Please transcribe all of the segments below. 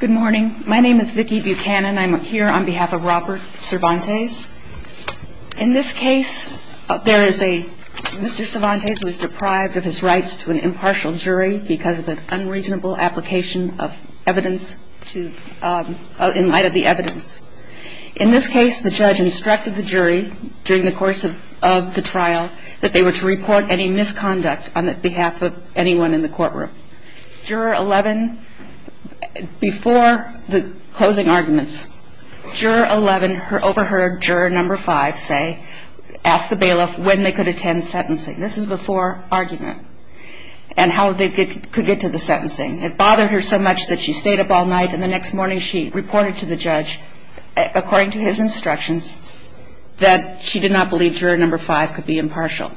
Good morning. My name is Vicki Buchanan. I'm here on behalf of Robert Cervantes. In this case, there is a, Mr. Cervantes was deprived of his rights to an impartial jury because of an unreasonable application of evidence to, in light of the evidence. In this case, the judge instructed the jury during the course of the trial that they were to report any misconduct on behalf of anyone in the courtroom. Juror 11, before the closing arguments, juror 11 overheard juror number 5 say, ask the bailiff when they could attend sentencing. This is before argument and how they could get to the sentencing. It bothered her so much that she stayed up all night and the next morning she reported to the judge, according to his instructions, that she did not believe juror number 5 could be impartial.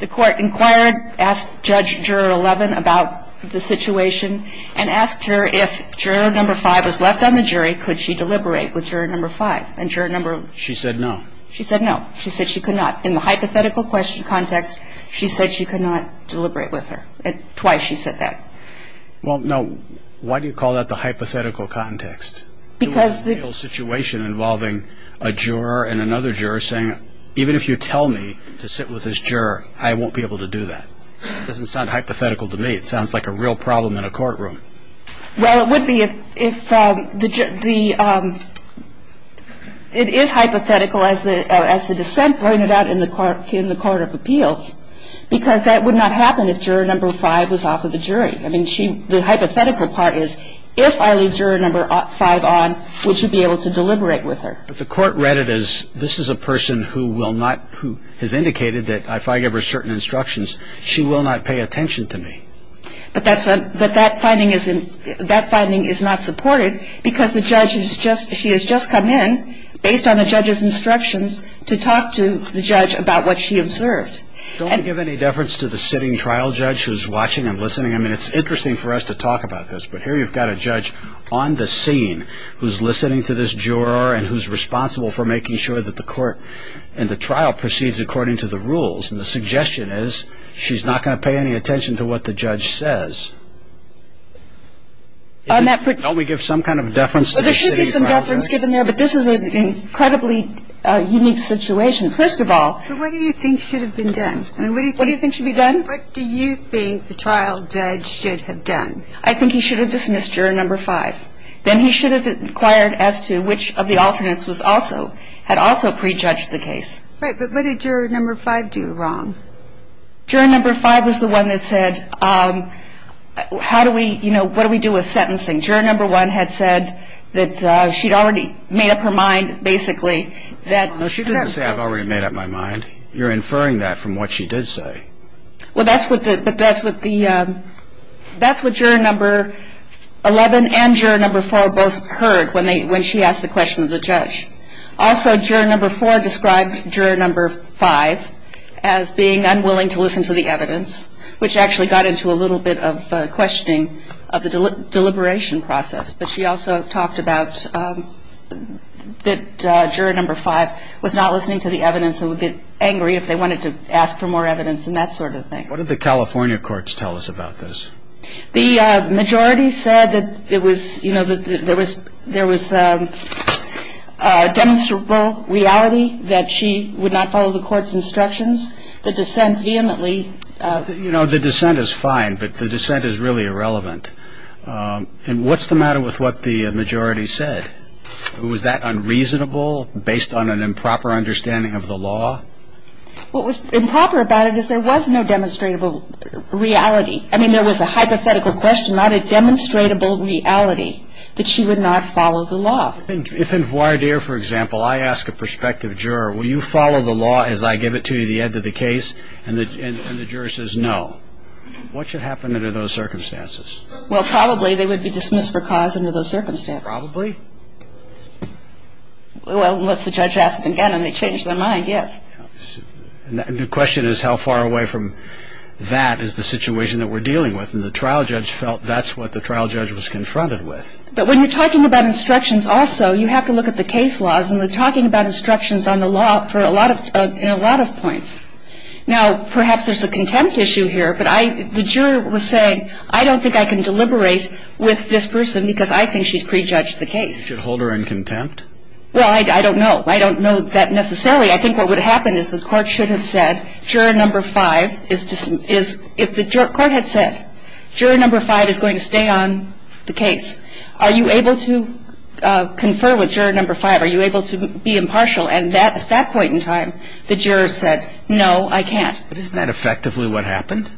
The court inquired, asked judge juror 11 about the situation, and asked her if juror number 5 was left on the jury, could she deliberate with juror number 5? And juror number 11 said no. She said no. She said she could not. In the hypothetical question context, she said she could not deliberate with her. Twice she said that. Well, no. Why do you call that the hypothetical context? Because the involving a juror and another juror saying, even if you tell me to sit with this juror, I won't be able to do that. It doesn't sound hypothetical to me. It sounds like a real problem in a courtroom. Well, it would be if the, it is hypothetical, as the dissent pointed out in the court of appeals, because that would not happen if juror number 5 was off of the jury. I mean, she, the hypothetical part is, if I leave juror number 5 on, would she be able to deliberate with her? But the court read it as, this is a person who will not, who has indicated that if I give her certain instructions, she will not pay attention to me. But that's a, but that finding is, that finding is not supported, because the judge has just, she has just come in, based on the judge's instructions, to talk to the judge about what she observed. Don't we give any deference to the sitting trial judge who's watching and listening? I mean, it's interesting for us to talk about this, but here you've got a judge on the scene, who's listening to this juror and who's responsible for making sure that the court and the trial proceeds according to the rules. And the suggestion is, she's not going to pay any attention to what the judge says. On that particular Don't we give some kind of deference to the sitting trial judge? Well, there should be some deference given there, but this is an incredibly unique situation. First of all But what do you think should have been done? I mean, what do you think What do you think should be done? What do you think the trial judge should have done? I think he should have dismissed juror number five. Then he should have inquired as to which of the alternates was also, had also prejudged the case. Right, but what did juror number five do wrong? Juror number five was the one that said, how do we, you know, what do we do with sentencing? Juror number one had said that she'd already made up her mind, basically, that No, she didn't say I've already made up my mind. You're inferring that from what she did say. Well, that's what the, that's what the, that's what juror number 11 and juror number four both heard when they, when she asked the question of the judge. Also, juror number four described juror number five as being unwilling to listen to the evidence, which actually got into a little bit of questioning of the deliberation process. But she also talked about that juror number five was not listening to the evidence and would get angry if they wanted to ask for more evidence and that sort of thing. What did the California courts tell us about this? The majority said that it was, you know, that there was, there was a demonstrable reality that she would not follow the court's instructions. The dissent vehemently. You know, the dissent is fine, but the dissent is really irrelevant. And what's the matter with what the majority said? Was that unreasonable based on an improper understanding of the law? What was improper about it is there was no demonstrable reality. I mean, there was a hypothetical question, not a demonstrable reality that she would not follow the law. If in voir dire, for example, I ask a prospective juror, will you follow the law as I give it to you at the end of the case? And the juror says no. What should happen under those circumstances? Well, probably they would be dismissed for cause under those circumstances. Probably. Well, unless the judge asks again and they change their mind, yes. And the question is how far away from that is the situation that we're dealing with. And the trial judge felt that's what the trial judge was confronted with. But when you're talking about instructions also, you have to look at the case laws and we're talking about instructions on the law for a lot of, in a lot of points. Now, perhaps there's a contempt issue here, but I, the juror was saying, I don't think I can deliberate with this person because I think she's prejudged the case. You should hold her in contempt? Well, I don't know. I don't know that necessarily. I think what would happen is the court should have said, juror number 5 is, if the court had said, juror number 5 is going to stay on the case, are you able to confer with juror number 5? Are you able to be impartial? And at that point in time, the juror said, no, I can't. But isn't that effectively what happened?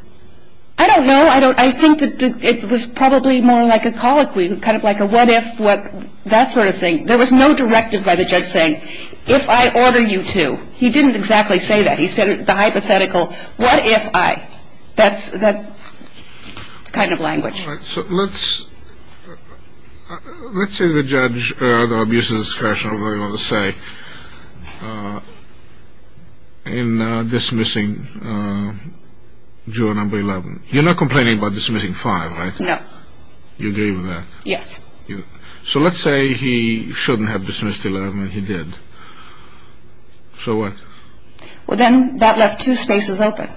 I don't know. I think that it was probably more like a colloquy, kind of like a what if, what, that sort of thing. There was no directive by the judge saying, if I order you to. He didn't exactly say that. He said the hypothetical, what if I. That's the kind of language. All right. So let's say the judge, though abuse of discretion, whatever you want to say, in dismissing juror number 11. You're not complaining about dismissing 5, right? No. You agree with that? Yes. So let's say he shouldn't have dismissed 11 and he did. So what? Well, then that left two spaces open,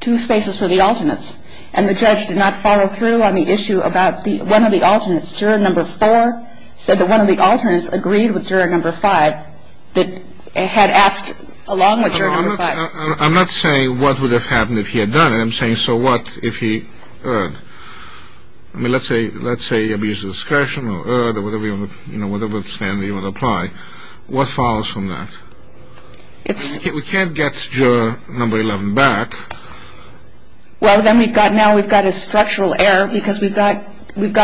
two spaces for the alternates. And the judge did not follow through on the issue about one of the alternates. Juror number 4 said that one of the alternates agreed with juror number 5 that had asked along with juror number 5. I'm not saying what would have happened if he had done it. I'm saying, so what if he erred? I mean, let's say abuse of discretion or erred or whatever standard you want to apply. What follows from that? We can't get juror number 11 back. Well, then we've got now we've got a structural error because we've got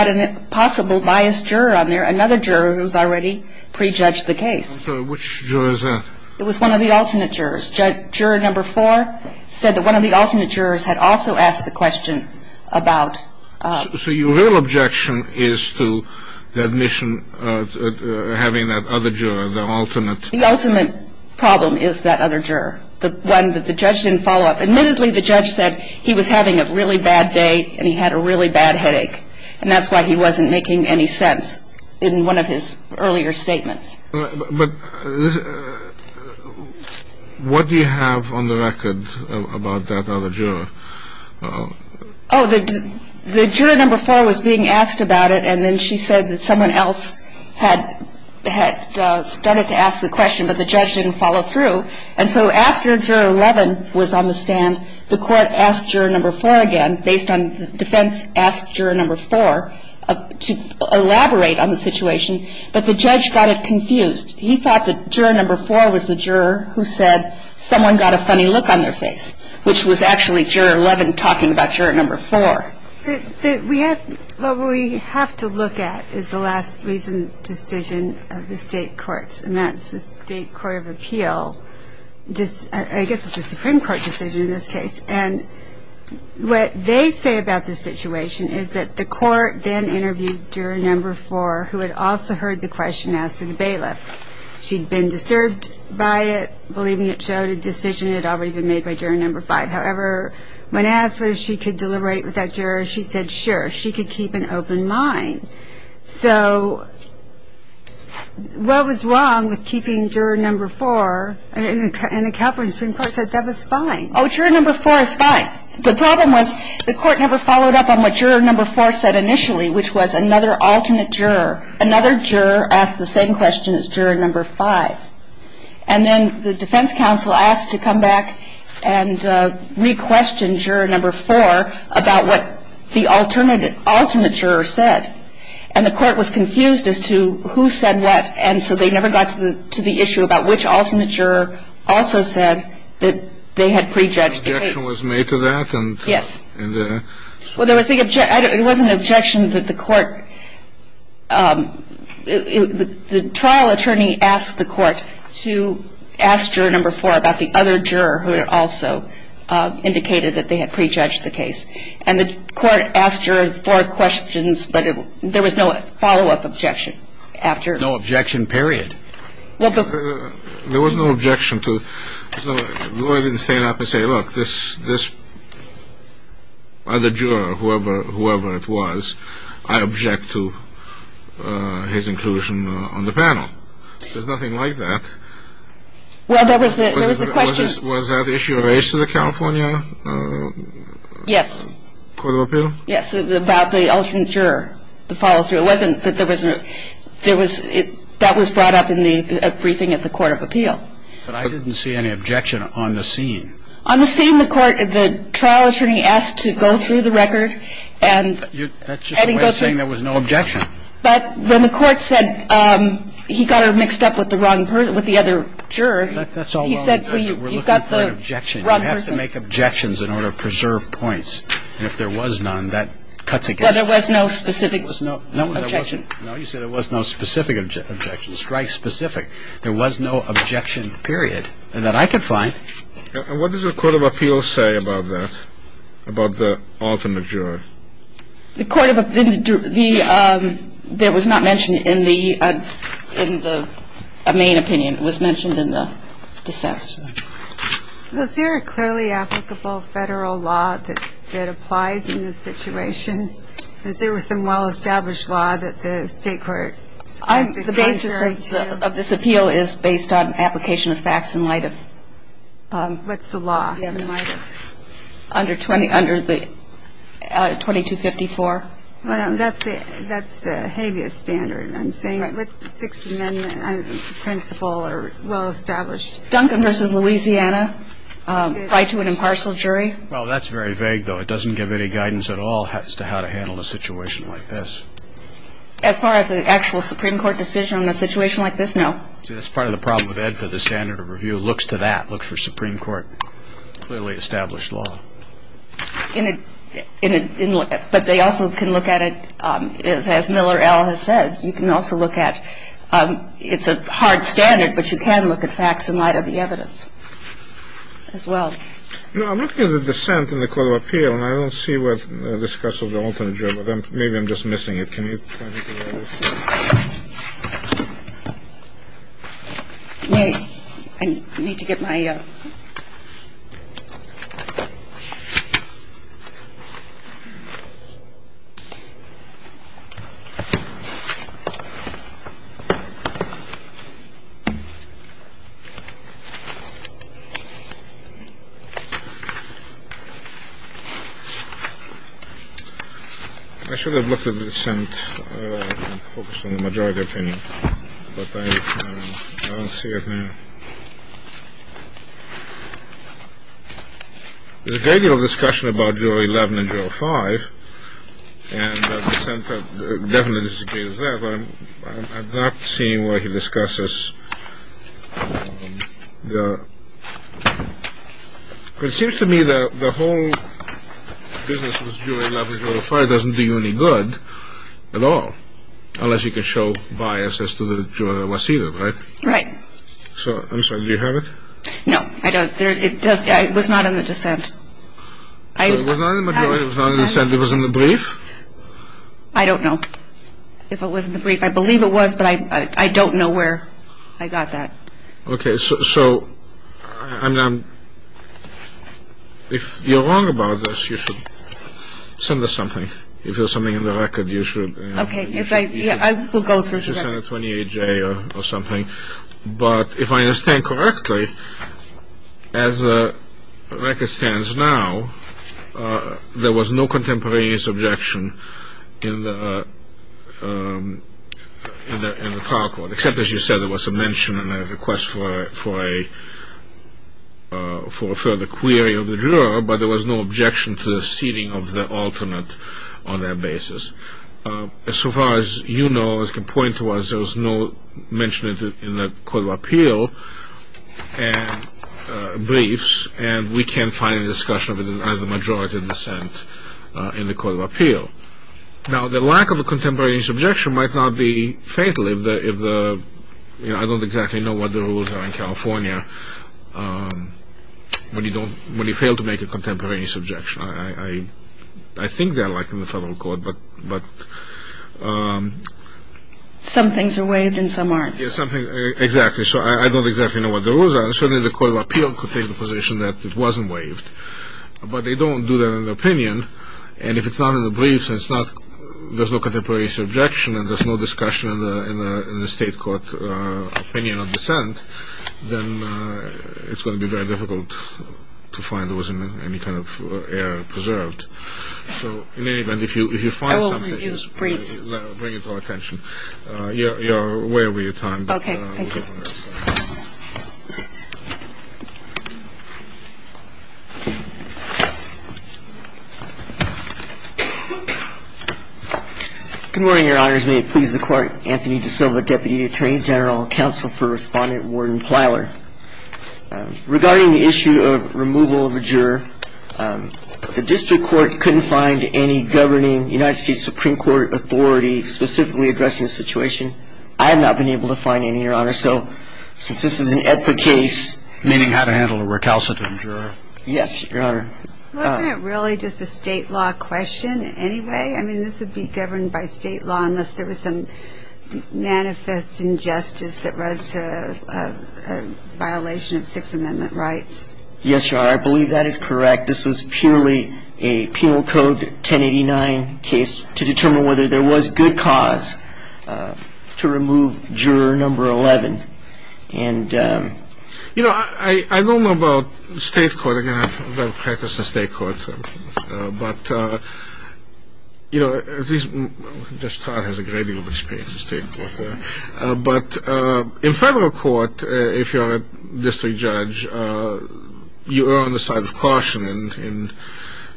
an impossible biased juror on there, another juror who's already prejudged the case. I'm sorry. Which juror is that? It was one of the alternate jurors. Juror number 4 said that one of the alternate jurors had also asked the question about So your real objection is to the admission of having that other juror, the alternate? The ultimate problem is that other juror, the one that the judge didn't follow up. Admittedly, the judge said he was having a really bad day and he had a really bad headache. And that's why he wasn't making any sense in one of his earlier statements. But what do you have on the record about that other juror? Oh, the juror number 4 was being asked about it, and then she said that someone else had started to ask the question, but the judge didn't follow through. And so after juror 11 was on the stand, the court asked juror number 4 again, based on defense, asked juror number 4 to elaborate on the situation. But the judge got it confused. He thought that juror number 4 was the juror who said someone got a funny look on their face, which was actually juror 11 talking about juror number 4. We have to look at is the last recent decision of the State courts, and that's the State Court of Appeal, I guess it's a Supreme Court decision in this case. And what they say about this situation is that the court then interviewed juror number 4, who had also heard the question asked of the bailiff. She'd been disturbed by it, believing it showed a decision that had already been made by juror number 5. However, when asked whether she could deliberate with that juror, she said, sure, she could keep an open mind. So what was wrong with keeping juror number 4, and the California Supreme Court said that was fine. Oh, juror number 4 is fine. The problem was the court never followed up on what juror number 4 said initially, which was another alternate juror. Another juror asked the same question as juror number 5. And then the defense counsel asked to come back and re-question juror number 4 about what the alternate juror said. And the court was confused as to who said what, and so they never got to the issue about which alternate juror also said that they had prejudged the case. The objection was made to that? Yes. Well, it wasn't an objection that the court – the trial attorney asked the court to ask juror number 4 about the other juror who had also indicated that they had prejudged the case. And the court asked juror 4 questions, but there was no follow-up objection after. No objection, period. There was no objection to – the lawyer didn't stand up and say, look, this other juror, whoever it was, I object to his inclusion on the panel. There's nothing like that. Well, there was the question – Was that issue raised to the California – Yes. Court of Appeal? Yes, about the alternate juror, the follow-through. It wasn't that there was – there was – that was brought up in the briefing at the Court of Appeal. But I didn't see any objection on the scene. On the scene, the court – the trial attorney asked to go through the record and – That's just a way of saying there was no objection. But when the court said he got her mixed up with the wrong – with the other juror, he said, well, you've got the wrong person. We're looking for an objection. You have to make objections in order to preserve points. And if there was none, that cuts it down. Well, there was no specific objection. No, there wasn't. No, you said there was no specific objection, strike-specific. There was no objection, period, that I could find. And what does the Court of Appeal say about that, about the alternate juror? The Court of – the – there was not mentioned in the – in the main opinion. It was mentioned in the deception. Was there a clearly applicable Federal law that applies in this situation? Was there some well-established law that the State court selected contrary to? The basis of this appeal is based on application of facts in light of – What's the law in light of? Under the 2254. That's the habeas standard I'm saying. What's the Sixth Amendment principle or well-established? Duncan v. Louisiana, right to an impartial jury. Well, that's very vague, though. It doesn't give any guidance at all as to how to handle a situation like this. As far as an actual Supreme Court decision on a situation like this, no. See, that's part of the problem with EDPA, the standard of review. Who looks to that, looks for Supreme Court clearly established law? In a – but they also can look at it as Miller L. has said. You can also look at – it's a hard standard, but you can look at facts in light of the evidence as well. No, I'm looking at the dissent in the Court of Appeal, and I don't see what the discussion of the alternate juror. Maybe I'm just missing it. Can you – I need to get my – I should have looked at the dissent and focused on the majority opinion, but I don't see it now. There's a great deal of discussion about jury 11 and jury 5, and the dissent definitely disagrees with that, but I'm not seeing where he discusses the – because it seems to me that the whole business with jury 11 and jury 5 doesn't do you any good at all, unless you can show bias as to the juror that was seated, right? Right. So, I'm sorry, do you have it? No, I don't. It was not in the dissent. It was not in the majority? It was not in the dissent? It was in the brief? I don't know if it was in the brief. I believe it was, but I don't know where I got that. Okay. So, if you're wrong about this, you should send us something. If there's something in the record, you should – Okay. I will go through. You should send a 28-J or something. But if I understand correctly, as the record stands now, there was no contemporaneous objection in the trial court, except, as you said, there was a mention and a request for a further query of the juror, but there was no objection to the seating of the alternate on that basis. So far as you know, the point was there was no mention in the Court of Appeal briefs, and we can't find a discussion of it as a majority dissent in the Court of Appeal. Now, the lack of a contemporaneous objection might not be fatal if the – I don't exactly know what the rules are in California when you fail to make a contemporaneous objection. I think they're like in the federal court, but – Some things are waived and some aren't. Exactly. So, I don't exactly know what the rules are. Certainly, the Court of Appeal could take the position that it wasn't waived, but they don't do that in their opinion. And if it's not in the briefs and it's not – there's no contemporaneous objection and there's no discussion in the state court opinion of dissent, then it's going to be very difficult to find there wasn't any kind of error preserved. So, in any event, if you find something – I will review briefs. Bring it to our attention. You're way over your time. Okay. Thank you. Good morning, Your Honors. May it please the Court, Anthony DiSilva, Deputy Attorney General Counsel for Respondent Warden Plyler. Regarding the issue of removal of a juror, the district court couldn't find any governing United States Supreme Court authority specifically addressing the situation. I have not been able to find any, Your Honor. So, since this is an EPPA case – Meaning how to handle a recalcitrant juror. Yes, Your Honor. Wasn't it really just a state law question anyway? I mean, this would be governed by state law unless there was some manifest injustice that was a violation of Sixth Amendment rights. Yes, Your Honor. I believe that is correct. This was purely a Penal Code 1089 case to determine whether there was good cause to remove juror number 11. And, you know, I don't know about the state court. Again, I don't have practice in state court. But, you know, Judge Todd has a great deal of experience in state court. But in federal court, if you're a district judge, you are on the side of caution. And,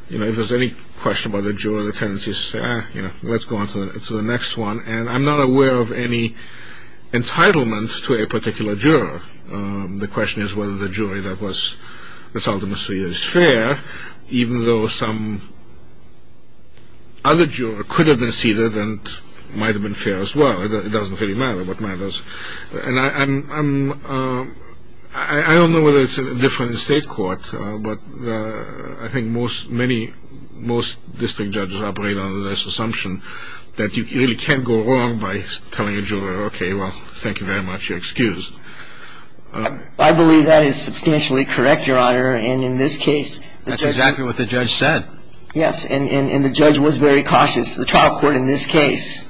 you know, if there's any question about a juror, the tendency is to say, ah, you know, let's go on to the next one. And I'm not aware of any entitlement to a particular juror. The question is whether the jury that was assaulted in the suit is fair, even though some other juror could have been seated and might have been fair as well. It doesn't really matter what matters. And I don't know whether it's different in state court, but I think most district judges operate on this assumption that you really can't go wrong by telling a juror, okay, well, thank you very much, you're excused. I believe that is substantially correct, Your Honor. And in this case, the judge. That's exactly what the judge said. Yes. And the judge was very cautious, the trial court in this case,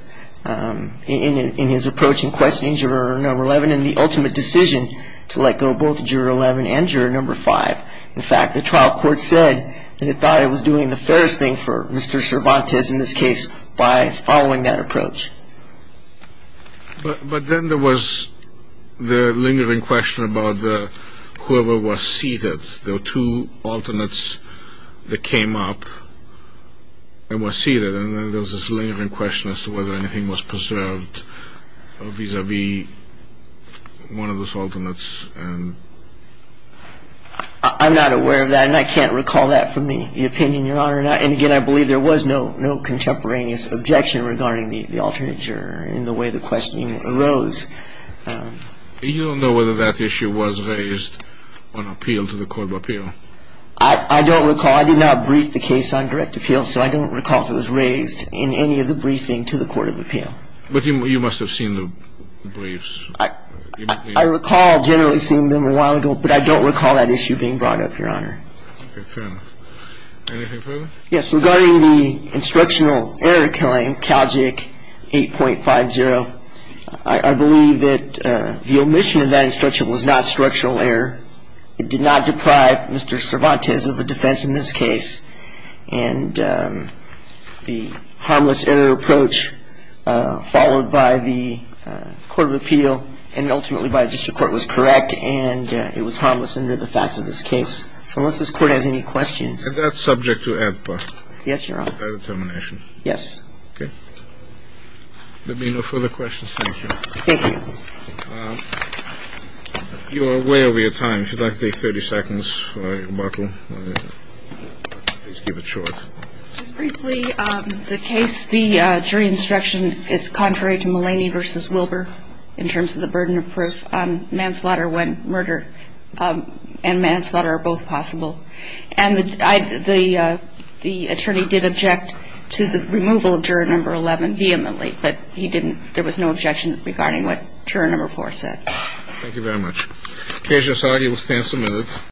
in his approach in questioning juror number 11 and the ultimate decision to let go both juror 11 and juror number 5. In fact, the trial court said it thought it was doing the fairest thing for Mr. Cervantes, in this case, by following that approach. But then there was the lingering question about whoever was seated. There were two alternates that came up and were seated, and then there was this lingering question as to whether anything was preserved vis-à-vis one of those alternates. I'm not aware of that, and I can't recall that from the opinion, Your Honor. And again, I believe there was no contemporaneous objection regarding the alternate juror in the way the questioning arose. You don't know whether that issue was raised on appeal to the court of appeal? I don't recall. I did not brief the case on direct appeal, so I don't recall if it was raised in any of the briefing to the court of appeal. But you must have seen the briefs. I recall generally seeing them a while ago, but I don't recall that issue being brought up, Your Honor. Okay, fair enough. Anything further? Yes. Regarding the instructional error claim, CALJIC 8.50, I believe that the omission of that instruction was not structural error. It did not deprive Mr. Cervantes of a defense in this case, and the harmless error approach followed by the court of appeal and ultimately by the district court was correct, and it was harmless under the facts of this case. So unless this Court has any questions. And that's subject to AEDPA? Yes, Your Honor. By determination? Yes. Okay. There being no further questions, thank you. Thank you. You are way over your time. If you'd like to take 30 seconds for your rebuttal, please keep it short. Just briefly, the case, the jury instruction is contrary to Mulaney v. Wilbur in terms of the burden of proof. Mulaney did object to the removal of Juror 11. And so the only things that are possible is to have manslaughter when murder and manslaughter are both possible. And the attorney did object to the removal of Juror 11 vehemently, but there was no objection regarding what Juror 4 said. Thank you very much. KJ Society withstands the move.